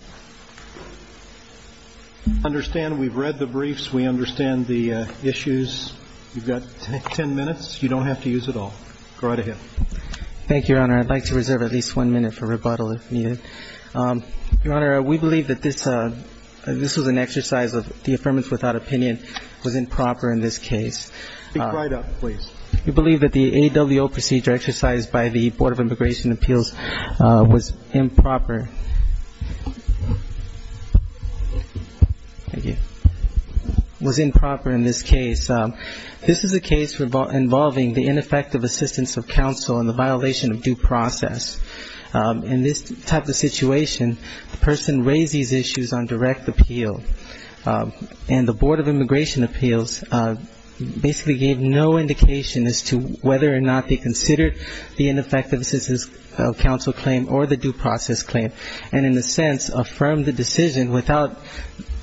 I understand we've read the briefs. We understand the issues. You've got 10 minutes. You don't have to use it all. Go right ahead. Thank you, Your Honor. I'd like to reserve at least one minute for rebuttal if needed. Your Honor, we believe that this was an exercise of the Affirmative Without Opinion was improper in this case. Speak right up, please. We believe that the A.W.O. procedure exercised by the Board of Immigration Appeals was improper in this case. This is a case involving the ineffective assistance of counsel in the violation of due process. In this type of situation, the person raised these issues on direct appeal. And the Board of Immigration Appeals basically gave no indication as to whether or not they considered the ineffective assistance of counsel claim or the due process claim, and in a sense affirmed the decision without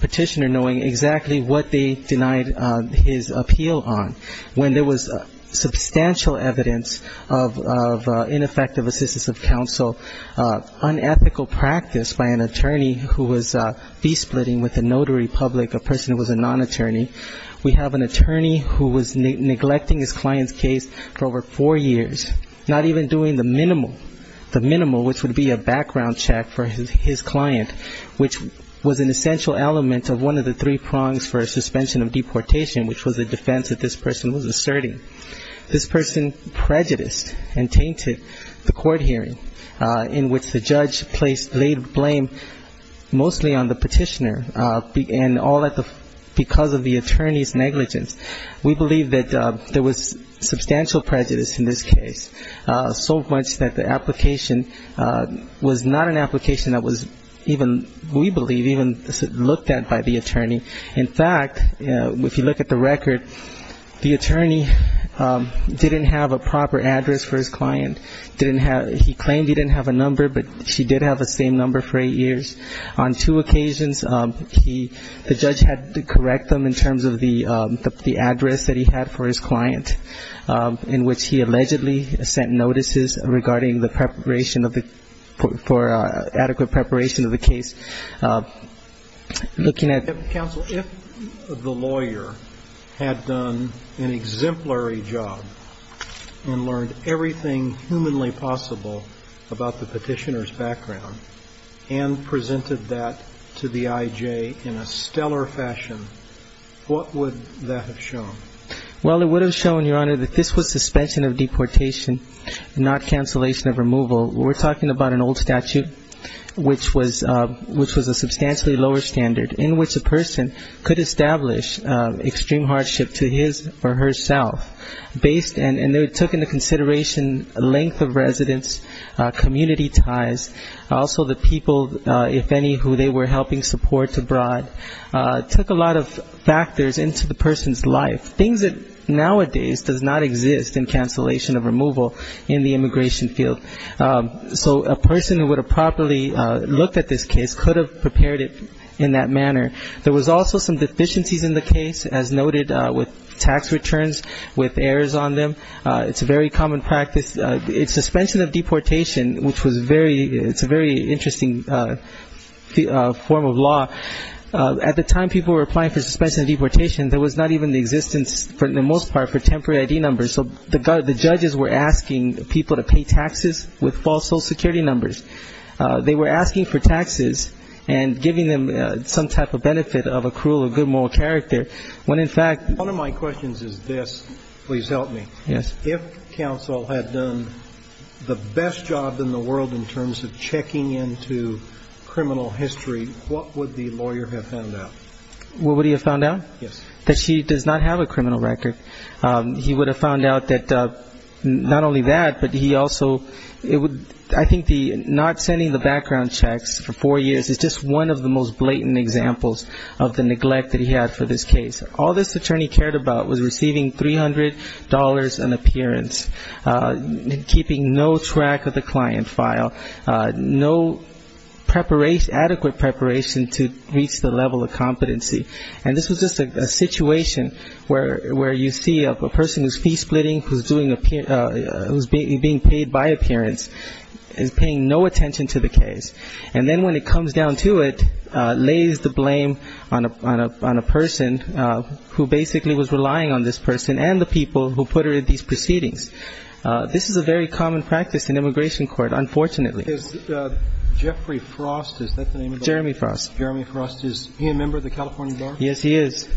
Petitioner knowing exactly what they denied his appeal on. When there was substantial evidence of ineffective assistance of counsel, unethical practice by an attorney who was fee-splitting with a notary public, a person who was a non-attorney, we have an attorney who was neglecting his client's case for over four years, not even doing the minimal, the minimal, which would be a background check for his client, which was an essential element of one of the three prongs for a suspension of deportation, which was a defense that this person was asserting. This person prejudiced and tainted the court hearing, in which the judge placed, laid blame mostly on the Petitioner, and all because of the attorney's negligence. We believe that there was substantial prejudice in this case, so much that the application was not an application that was even, we believe, even looked at by the attorney. In fact, if you look at the record, the attorney didn't have a proper address for his client, didn't have, he claimed he didn't have a number, but she did have the same number for eight years. On two occasions, he, the judge had to correct them in terms of the address that he had for his client, in which he allegedly sent notices regarding the preparation of the, for adequate preparation of the case. Looking at the counsel. So if the lawyer had done an exemplary job and learned everything humanly possible about the Petitioner's background, and presented that to the I.J. in a stellar fashion, what would that have shown? Well, it would have shown, Your Honor, that this was suspension of deportation, not cancellation of removal. We're talking about an old statute, which was, which was a substantially lower standard, in which a person could establish extreme hardship to his or herself, based and it took into consideration length of residence, community ties, also the people, if any, who they were helping support abroad, took a lot of factors into the person's life, things that nowadays does not exist in cancellation of removal in the immigration field. So a lawyer who properly looked at this case could have prepared it in that manner. There was also some deficiencies in the case, as noted, with tax returns, with errors on them. It's a very common practice. Suspension of deportation, which was very, it's a very interesting form of law. At the time people were applying for suspension of deportation, there was not even the existence, for the most part, for temporary I.D. numbers. So the judges were asking people to pay taxes with false social security numbers. They were asking for taxes and giving them some type of benefit of accrual of good moral character, when in fact one of my questions is this, please help me. If counsel had done the best job in the world in terms of checking into criminal history, what would the lawyer have found out? Well, what would he have found out? Yes. That she does not have a criminal record. He would have found out that not only that, but he also, I think not sending the background checks for four years is just one of the most blatant examples of the neglect that he had for this case. All this attorney cared about was receiving $300 in appearance, keeping no track of the client file, no adequate preparation to reach the level of competency. And this was just a situation where you see a person who's fee-splitting, who's being paid by appearance is paying no attention to the case. And then when it comes down to it, lays the blame on a person who basically was relying on this person and the people who put her in these proceedings. This is a very common practice in immigration court, unfortunately. Is Jeffrey Frost, is that the name of the lawyer? Jeremy Frost. Jeremy Frost, is he a member of the California Bar? Yes, he is.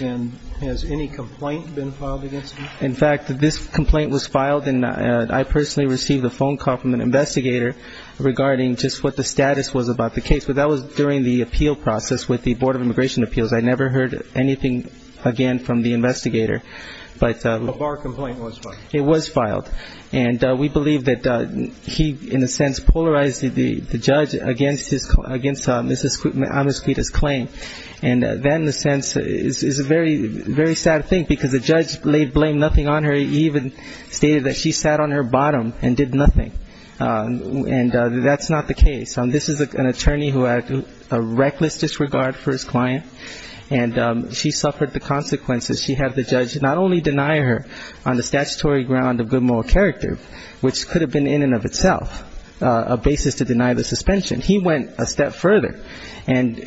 And has any complaint been filed against him? In fact, this complaint was filed, and I personally received a phone call from an investigator regarding just what the status was about the case. But that was during the appeal process with the Board of Immigration Appeals. I never heard anything again from the investigator. But the Bar complaint was filed? It was filed. And we believe that he, in a sense, polarized the judge against Mrs. Amasquita's claim. And that, in a sense, is a very sad thing, because the judge blamed nothing on her. He even stated that she sat on her bottom and did nothing. And that's not the case. This is an attorney who had a reckless disregard for his client, and she suffered the consequences. She had the judge not only deny her on the statutory ground of good moral character, which could have been, in and of itself, a basis to deny the suspension. He went a step further and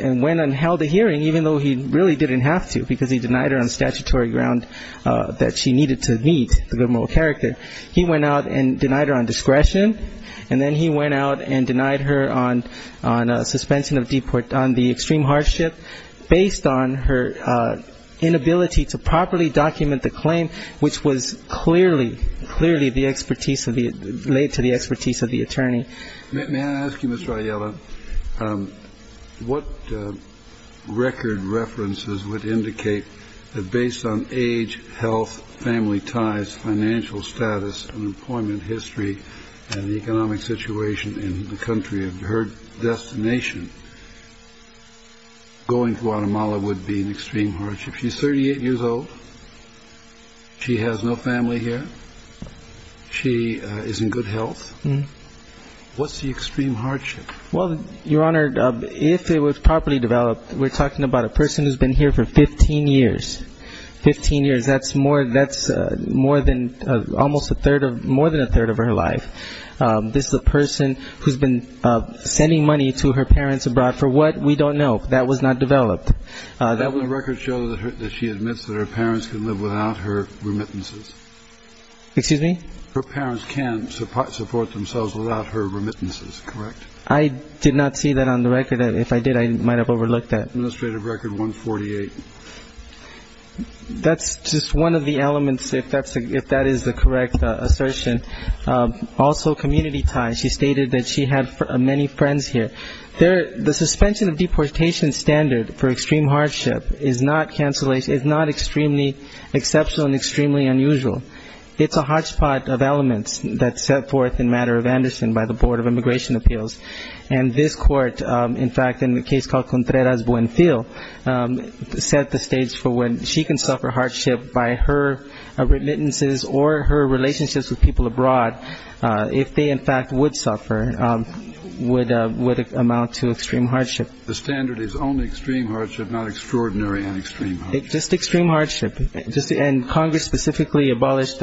held a hearing, even though he really didn't have to, because he denied her on statutory ground that she needed to meet the good moral character. He went out and denied her on discretion. And then he went out and denied her on suspension of deport on the extreme hardship, based on her inability to properly document the claim, which was clearly, clearly the expertise of the – laid to the expertise of the attorney. May I ask you, Mr. Ayala, what record references would indicate that, based on age, health, family ties, financial status, employment history, and the economic situation in the country of her destination, going to Guatemala would be an extreme hardship? She's 38 years old. She has no family here. She is in good health. What's the extreme hardship? Well, Your Honor, if it was properly developed, we're talking about a person who's been here for 15 years. Fifteen years. That's more – that's more than – almost a third of – more than a third of her life. This is a person who's been sending money to her parents abroad for what? We don't know. That was not developed. That would – the record shows that she admits that her parents can live without her remittances. Excuse me? Her parents can support themselves without her remittances, correct? I did not see that on the record. If I did, I might have overlooked that. Administrative record 148. That's just one of the elements, if that's – if that is the correct assertion. Also community ties. She stated that she had many friends here. There – the suspension of deportation standard for extreme hardship is not cancellation – is not extremely exceptional and extremely unusual. It's a hotspot of elements that's set forth in matter of Anderson by the Board of Immigration Appeals. And this court, in fact, in the case called Contreras-Buenfil, set the stage for when she can suffer hardship by her remittances or her relationships with her parents. The standard is only extreme hardship, not extraordinary and extreme hardship. Just extreme hardship. Just – and Congress specifically abolished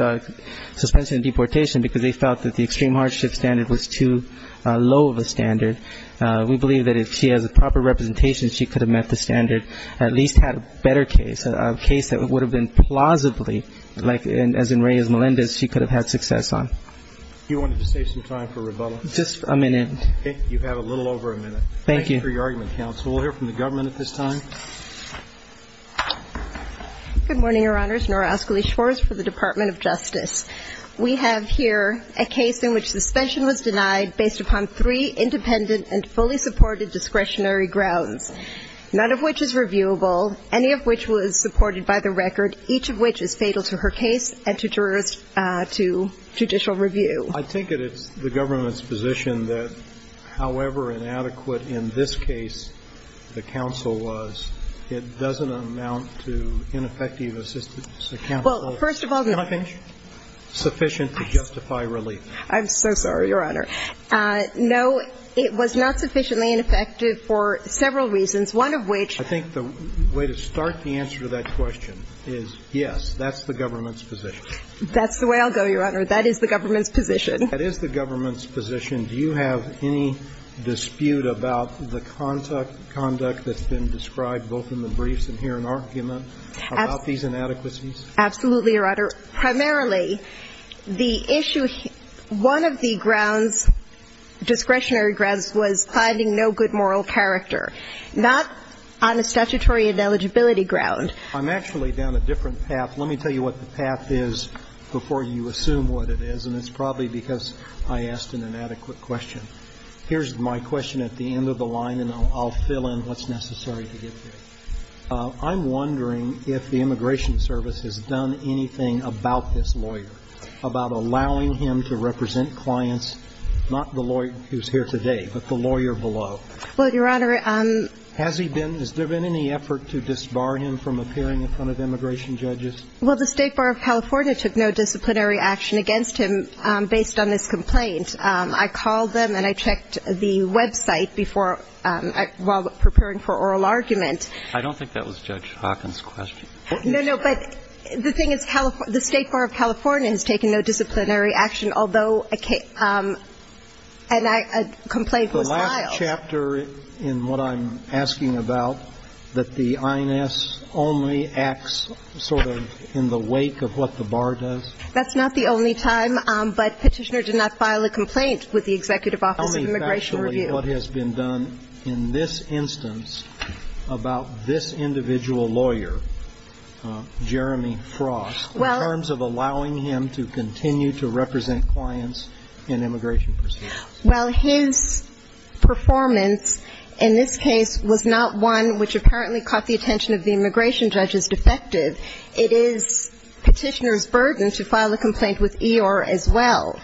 suspension of deportation because they felt that the extreme hardship standard was too low of a standard. We believe that if she has a proper representation, she could have met the standard, at least had a better case, a case that would have been plausibly like – as in Reyes-Melendez, she could have had success on. You wanted to save some time for rebuttal? Just a minute. You have a little over a minute. Thank you. Thank you for your argument, counsel. We'll hear from the government at this time. Good morning, Your Honors. Nora Oscoli Schwartz for the Department of Justice. We have here a case in which suspension was denied based upon three independent and fully supported discretionary grounds, none of which is reviewable, any of which was supported by the record, each of which is fatal to her case and to jurors – to judicial review. I take it it's the government's position that however inadequate in this case the counsel was, it doesn't amount to ineffective assistance accountable – Well, first of all – Can I finish? – sufficient to justify relief? I'm so sorry, Your Honor. No, it was not sufficiently ineffective for several reasons, one of which – I think the way to start the answer to that question is, yes, that's the government's position. That's the way I'll go, Your Honor. That is the government's position. That is the government's position. Do you have any dispute about the conduct that's been described both in the briefs and here in argument about these inadequacies? Absolutely, Your Honor. Primarily, the issue – one of the grounds, discretionary grounds, was finding no good moral character, not on a statutory and eligibility ground. I'm actually down a different path. Let me tell you what the path is before you assume what it is, and it's probably because I asked an inadequate question. Here's my question at the end of the line, and I'll fill in what's necessary to get here. I'm wondering if the Immigration Service has done anything about this lawyer, about allowing him to represent clients, not the lawyer who's here today, but the lawyer below. Well, Your Honor – Has he been – has there been any effort to disbar him from appearing in front of immigration judges? Well, the State Bar of California took no disciplinary action against him based on this complaint. I called them, and I checked the website before – while preparing for oral argument. I don't think that was Judge Hawkins' question. No, no, but the thing is the State Bar of California has taken no disciplinary action, although – and a complaint was filed. Is the last chapter in what I'm asking about that the INS only acts sort of in the wake of what the bar does? That's not the only time, but Petitioner did not file a complaint with the Executive Office of Immigration Review. Tell me factually what has been done in this instance about this individual lawyer, Jeremy Frost, in terms of allowing him to continue to represent clients in immigration proceedings? Well, his performance in this case was not one which apparently caught the attention of the immigration judges defective. It is Petitioner's burden to file a complaint with EOR as well.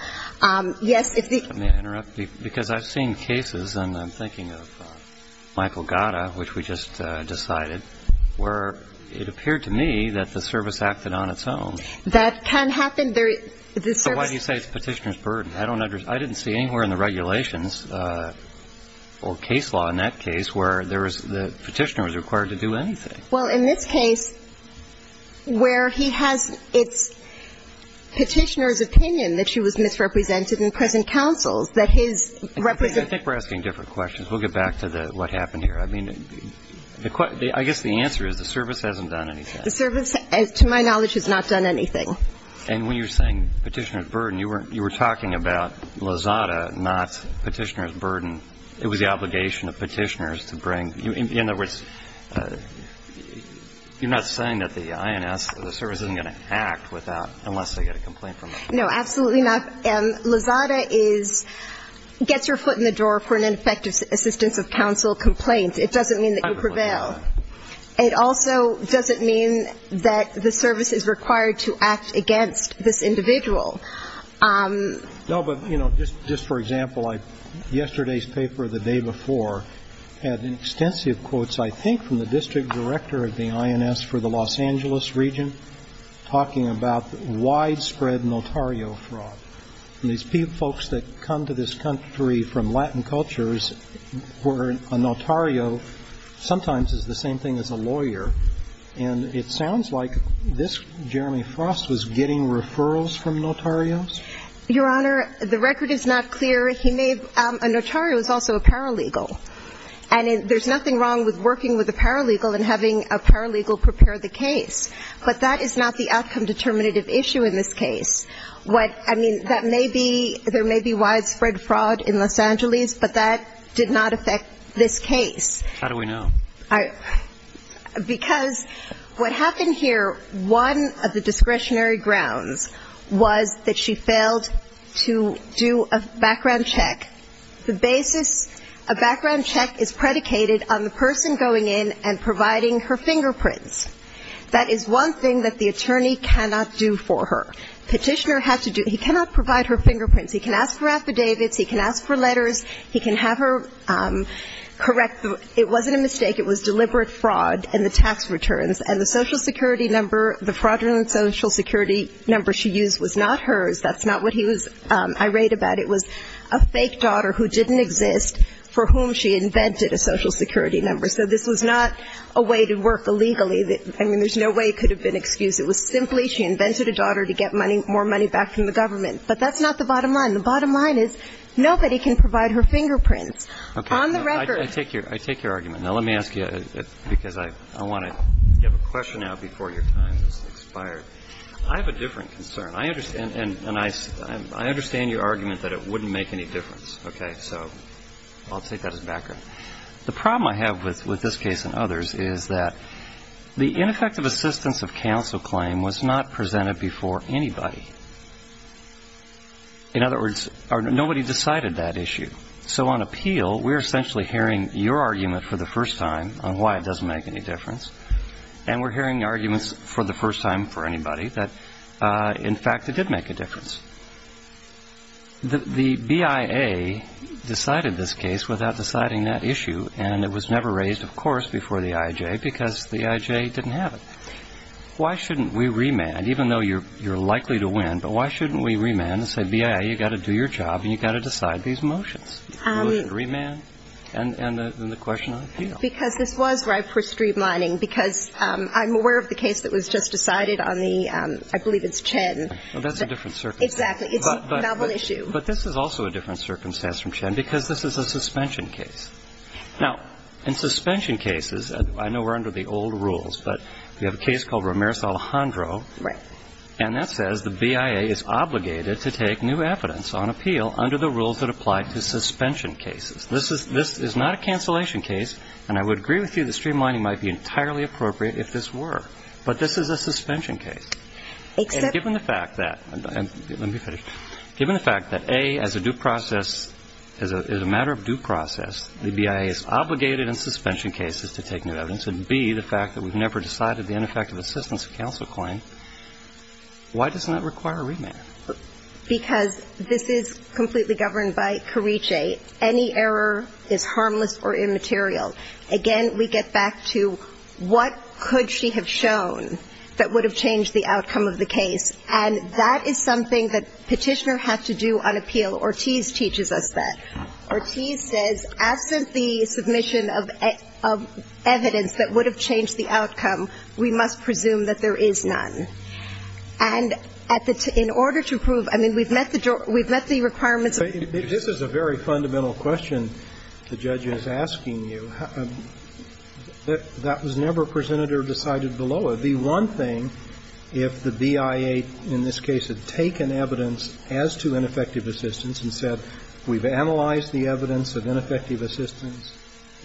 Yes, if the – May I interrupt? Because I've seen cases, and I'm thinking of Michael Gatta, which we just decided, where it appeared to me that the service acted on its own. That can happen. The service – Well, in the regulations, or case law in that case, where there was – the Petitioner was required to do anything. Well, in this case, where he has – it's Petitioner's opinion that she was misrepresented in present counsel, that his – I think we're asking different questions. We'll get back to the – what happened here. I mean, the – I guess the answer is the service hasn't done anything. The service, to my knowledge, has not done anything. And when you're saying Petitioner's burden, you were talking about Lozada, not Petitioner's burden. It was the obligation of Petitioner's to bring – in other words, you're not saying that the INS – the service isn't going to act without – unless they get a complaint from them. No, absolutely not. Lozada is – gets your foot in the door for an ineffective assistance of counsel complaint. It doesn't mean that you prevail. It also doesn't mean that the service is required to act against this individual. No, but, you know, just for example, I – yesterday's paper, the day before, had extensive quotes, I think, from the district director of the INS for the Los Angeles region, talking about widespread notario fraud. And these folks that come to this case, the same thing as a lawyer. And it sounds like this Jeremy Frost was getting referrals from notarios? Your Honor, the record is not clear. He made – a notario is also a paralegal. And there's nothing wrong with working with a paralegal and having a paralegal prepare the case. But that is not the outcome determinative issue in this case. What – I mean, that may be – there may be widespread fraud in Los Angeles, but that did not affect this case. How do we know? Because what happened here, one of the discretionary grounds was that she failed to do a background check. The basis – a background check is predicated on the person going in and providing her fingerprints. That is one thing that the attorney cannot do for her. Petitioner has to do – he cannot provide her fingerprints. He can ask for affidavits. He can ask for letters. He can have her correct the It wasn't a mistake. It was deliberate fraud and the tax returns. And the Social Security number – the fraudulent Social Security number she used was not hers. That's not what he was irate about. It was a fake daughter who didn't exist for whom she invented a Social Security number. So this was not a way to work illegally. I mean, there's no way it could have been excused. It was simply she invented a daughter to get money – more money back from the government. But that's not the bottom line. The bottom line is Now, let me ask you – because I want to – you have a question now before your time has expired. I have a different concern. I understand – and I understand your argument that it wouldn't make any difference. Okay? So I'll take that as background. The problem I have with this case and others is that the ineffective assistance of counsel claim was not presented before anybody. In other words, nobody decided that issue. So on appeal, we're essentially hearing your argument for the first time on why it doesn't make any difference. And we're hearing arguments for the first time for anybody that, in fact, it did make a difference. The BIA decided this case without deciding that issue. And it was never raised, of course, before the IJ because the IJ didn't have it. Why shouldn't we remand, even though you're likely to win, but why shouldn't we remand and say, BIA, you know, this is your job and you've got to decide these motions, the motion to remand and the question on appeal? Because this was right for streamlining because I'm aware of the case that was just decided on the – I believe it's Chen. Well, that's a different circumstance. Exactly. It's a novel issue. But this is also a different circumstance from Chen because this is a suspension case. Now, in suspension cases, I know we're under the old rules, but we have a case called Ramirez-Alejandro. Right. And that says the BIA is obligated to take new evidence on appeal under the rules that apply to suspension cases. This is not a cancellation case, and I would agree with you that streamlining might be entirely appropriate if this were. But this is a suspension case. Except – And given the fact that – let me finish. Given the fact that, A, as a due process – as a matter of due process, the BIA is obligated in suspension cases to take new Why does that require a remand? Because this is completely governed by Carice. Any error is harmless or immaterial. Again, we get back to what could she have shown that would have changed the outcome of the case. And that is something that Petitioner had to do on appeal. Ortiz teaches us that. Ortiz says, absent the submission of evidence that would have changed the outcome, we must presume that there is none. And at the – in order to prove – I mean, we've met the – we've met the requirements of – This is a very fundamental question the judge is asking you. That was never presented or decided below it. The one thing, if the BIA in this case had taken evidence as to ineffective assistance and said, we've analyzed the evidence of ineffective assistance,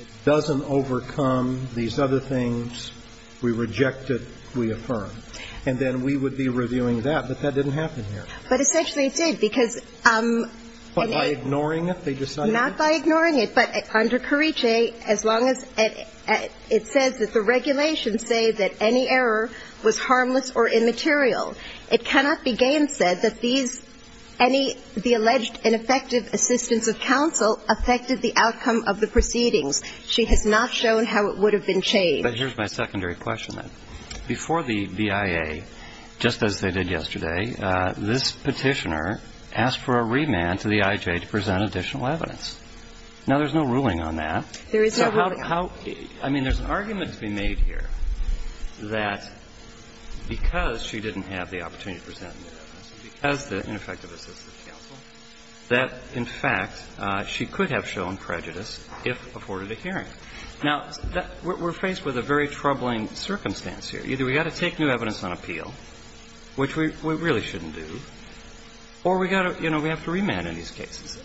it doesn't overcome these other things, we reject it, we affirm. And then we would be reviewing that, but that didn't happen here. But essentially it did, because – But by ignoring it, they decided – Not by ignoring it, but under Carice, as long as – it says that the regulations say that any error was harmless or immaterial. It cannot be gainsaid that these – any – the alleged ineffective assistance of counsel affected the outcome of the proceedings. She has not shown how it would have been changed. But here's my secondary question, then. Before the BIA, just as they did yesterday, this Petitioner asked for a remand to the IJ to present additional evidence. Now, there's no ruling on that. There is no ruling on that. So how – I mean, there's an argument to be made here that because she didn't have the opportunity to present the evidence, because the ineffective assistance of counsel, that, in fact, she could have shown prejudice if afforded a hearing. Now, we're faced with a very troubling circumstance here. Either we've got to take new evidence on appeal, which we really shouldn't do, or we've got to – you know, we have to remand in these cases.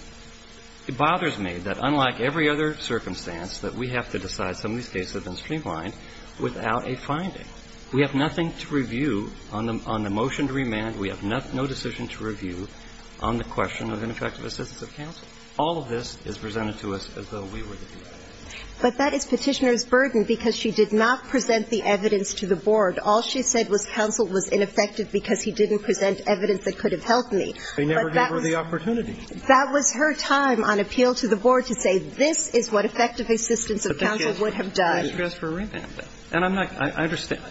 It bothers me that, unlike every other circumstance, that we have to decide some of these cases have been streamlined without a finding. We have nothing to review on the motion to remand. We have no decision to review on the question of ineffective assistance of counsel. All of this is presented to us as though we were the people. But that is Petitioner's burden because she did not present the evidence to the board. All she said was counsel was ineffective because he didn't present evidence that could have helped me. But that was – They never gave her the opportunity. That was her time on appeal to the board to say, this is what effective assistance of counsel would have done. But they asked for a remand. They asked for a remand. And I'm not – I understand.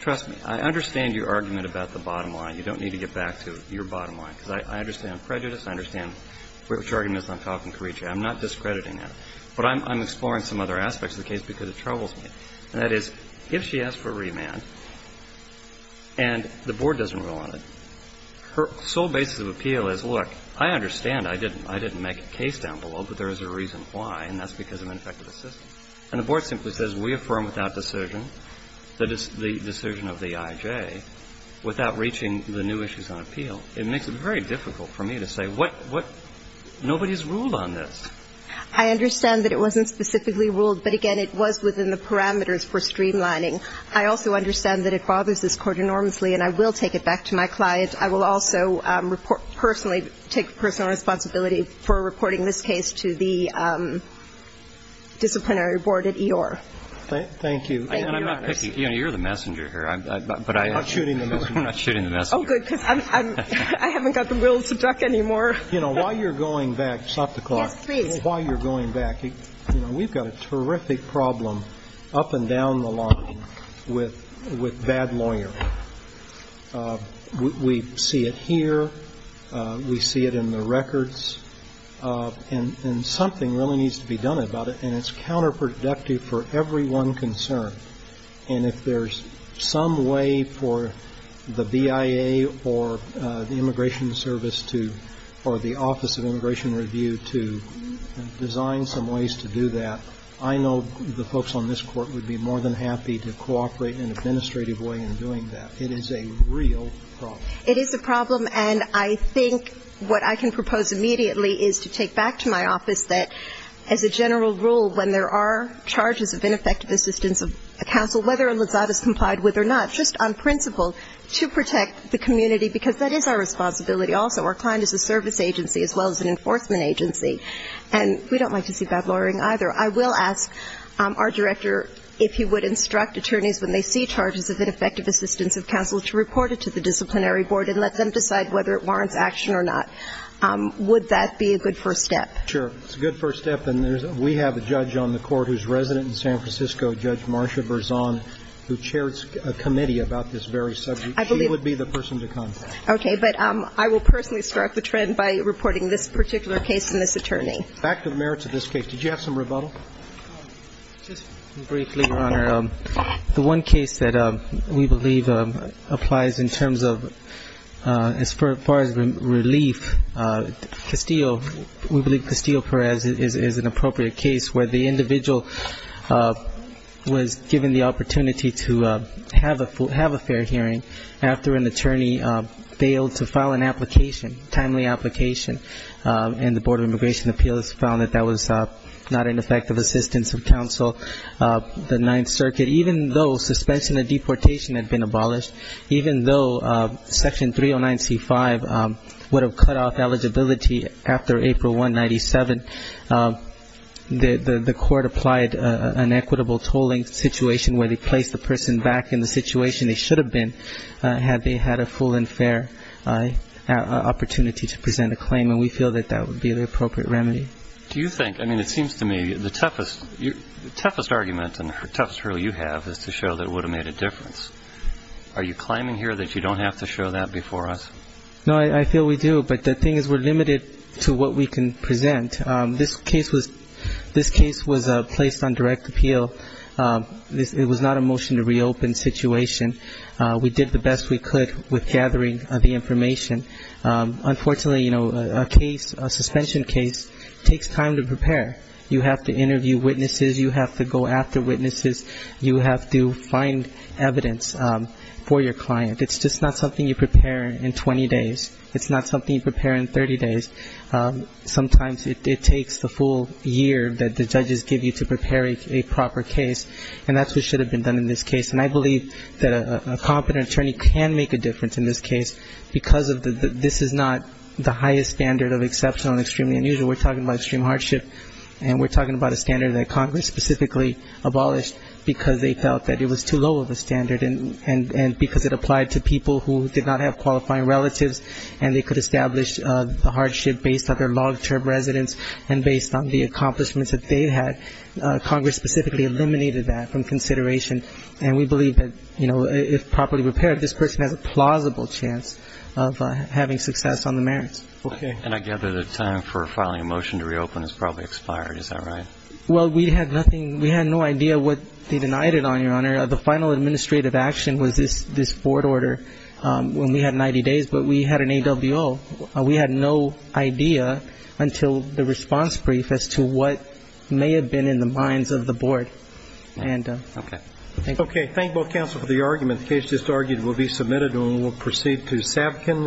Trust me. I understand your argument about the bottom line. You don't need to get back to your bottom line, because I understand prejudice. I understand which argument is not talking, Carice. I'm not discrediting that. But I'm exploring some other aspects of the case because it troubles me. And that is, if she asks for a remand and the board doesn't rule on it, her sole basis of appeal is, look, I understand I didn't make a case down below, but there is a reason why, and that's because of ineffective assistance. And the board simply says we affirm without decision that it's the decision of the I.J. without reaching the new issues on appeal. It makes it very difficult for me to say what – what – nobody's ruled on this. I understand that it wasn't specifically ruled. But, again, it was within the parameters for streamlining. I also understand that it bothers this court enormously. And I will take it back to my client. I will also report – personally take personal responsibility for reporting this case to the disciplinary board at E.R. Thank you. Thank you, Your Honor. And I'm not picking – you know, you're the messenger here. But I am. We're not shooting the messenger. We're not shooting the messenger. Oh, good, because I'm – I haven't got the wills to talk anymore. You know, while you're going back, stop the clock. Yes, please. While you're going back, you know, we've got a terrific problem up and down the line with bad lawyers. We see it here. We see it in the records. And something really needs to be done about it. And it's counterproductive for everyone concerned. And if there's some way for the BIA or the Immigration Service to – design some ways to do that, I know the folks on this Court would be more than happy to cooperate in an administrative way in doing that. It is a real problem. It is a problem. And I think what I can propose immediately is to take back to my office that as a general rule, when there are charges of ineffective assistance of a counsel, whether or not that is complied with or not, just on principle, to protect the community, because that is our responsibility also. Our client is a service agency as well as an enforcement agency. And we don't like to see bad lawyering either. I will ask our director if he would instruct attorneys when they see charges of ineffective assistance of counsel to report it to the disciplinary board and let them decide whether it warrants action or not. Would that be a good first step? Sure. It's a good first step. And we have a judge on the Court who's resident in San Francisco, Judge Marcia Berzon, who chairs a committee about this very subject. She would be the person to contact. Okay. But I will personally start the trend by reporting this particular case to this attorney. Back to the merits of this case. Did you have some rebuttal? Just briefly, Your Honor. The one case that we believe applies in terms of as far as relief, Castillo. We believe Castillo-Perez is an appropriate case where the individual was given the application, timely application, and the Board of Immigration Appeals found that that was not an effective assistance of counsel. The Ninth Circuit, even though suspension of deportation had been abolished, even though Section 309C-5 would have cut off eligibility after April 1, 1997, the Court applied an equitable tolling situation where they placed the person back in the situation they should have been had they had a full and fair opportunity to present a claim. And we feel that that would be the appropriate remedy. Do you think, I mean, it seems to me the toughest argument and the toughest rule you have is to show that it would have made a difference. Are you claiming here that you don't have to show that before us? No, I feel we do. But the thing is we're limited to what we can present. This case was placed on direct appeal. It was not a motion to reopen situation. We did the best we could with gathering the information. Unfortunately, you know, a case, a suspension case, takes time to prepare. You have to interview witnesses. You have to go after witnesses. You have to find evidence for your client. It's just not something you prepare in 20 days. It's not something you prepare in 30 days. Sometimes it takes the full year that the judges give you to prepare a proper case. And that's what should have been done in this case. And I believe that a competent attorney can make a difference in this case because this is not the highest standard of exceptional and extremely unusual. We're talking about extreme hardship, and we're talking about a standard that Congress specifically abolished because they felt that it was too low of a standard and because it applied to people who did not have qualifying relatives and they could establish the hardship based on their long-term residence and based on the accomplishments that they had. Congress specifically eliminated that from consideration. And we believe that, you know, if properly prepared, this person has a plausible chance of having success on the merits. Okay. And I gather the time for filing a motion to reopen has probably expired. Is that right? Well, we had nothing. We had no idea what they denied it on, Your Honor. The final administrative action was this board order when we had 90 days, but we had an AWO. We had no idea until the response brief as to what may have been in the minds of the board. Okay. Thank you. Okay. Thank both counsel for the argument. The case just argued will be submitted and we'll proceed to Savkin.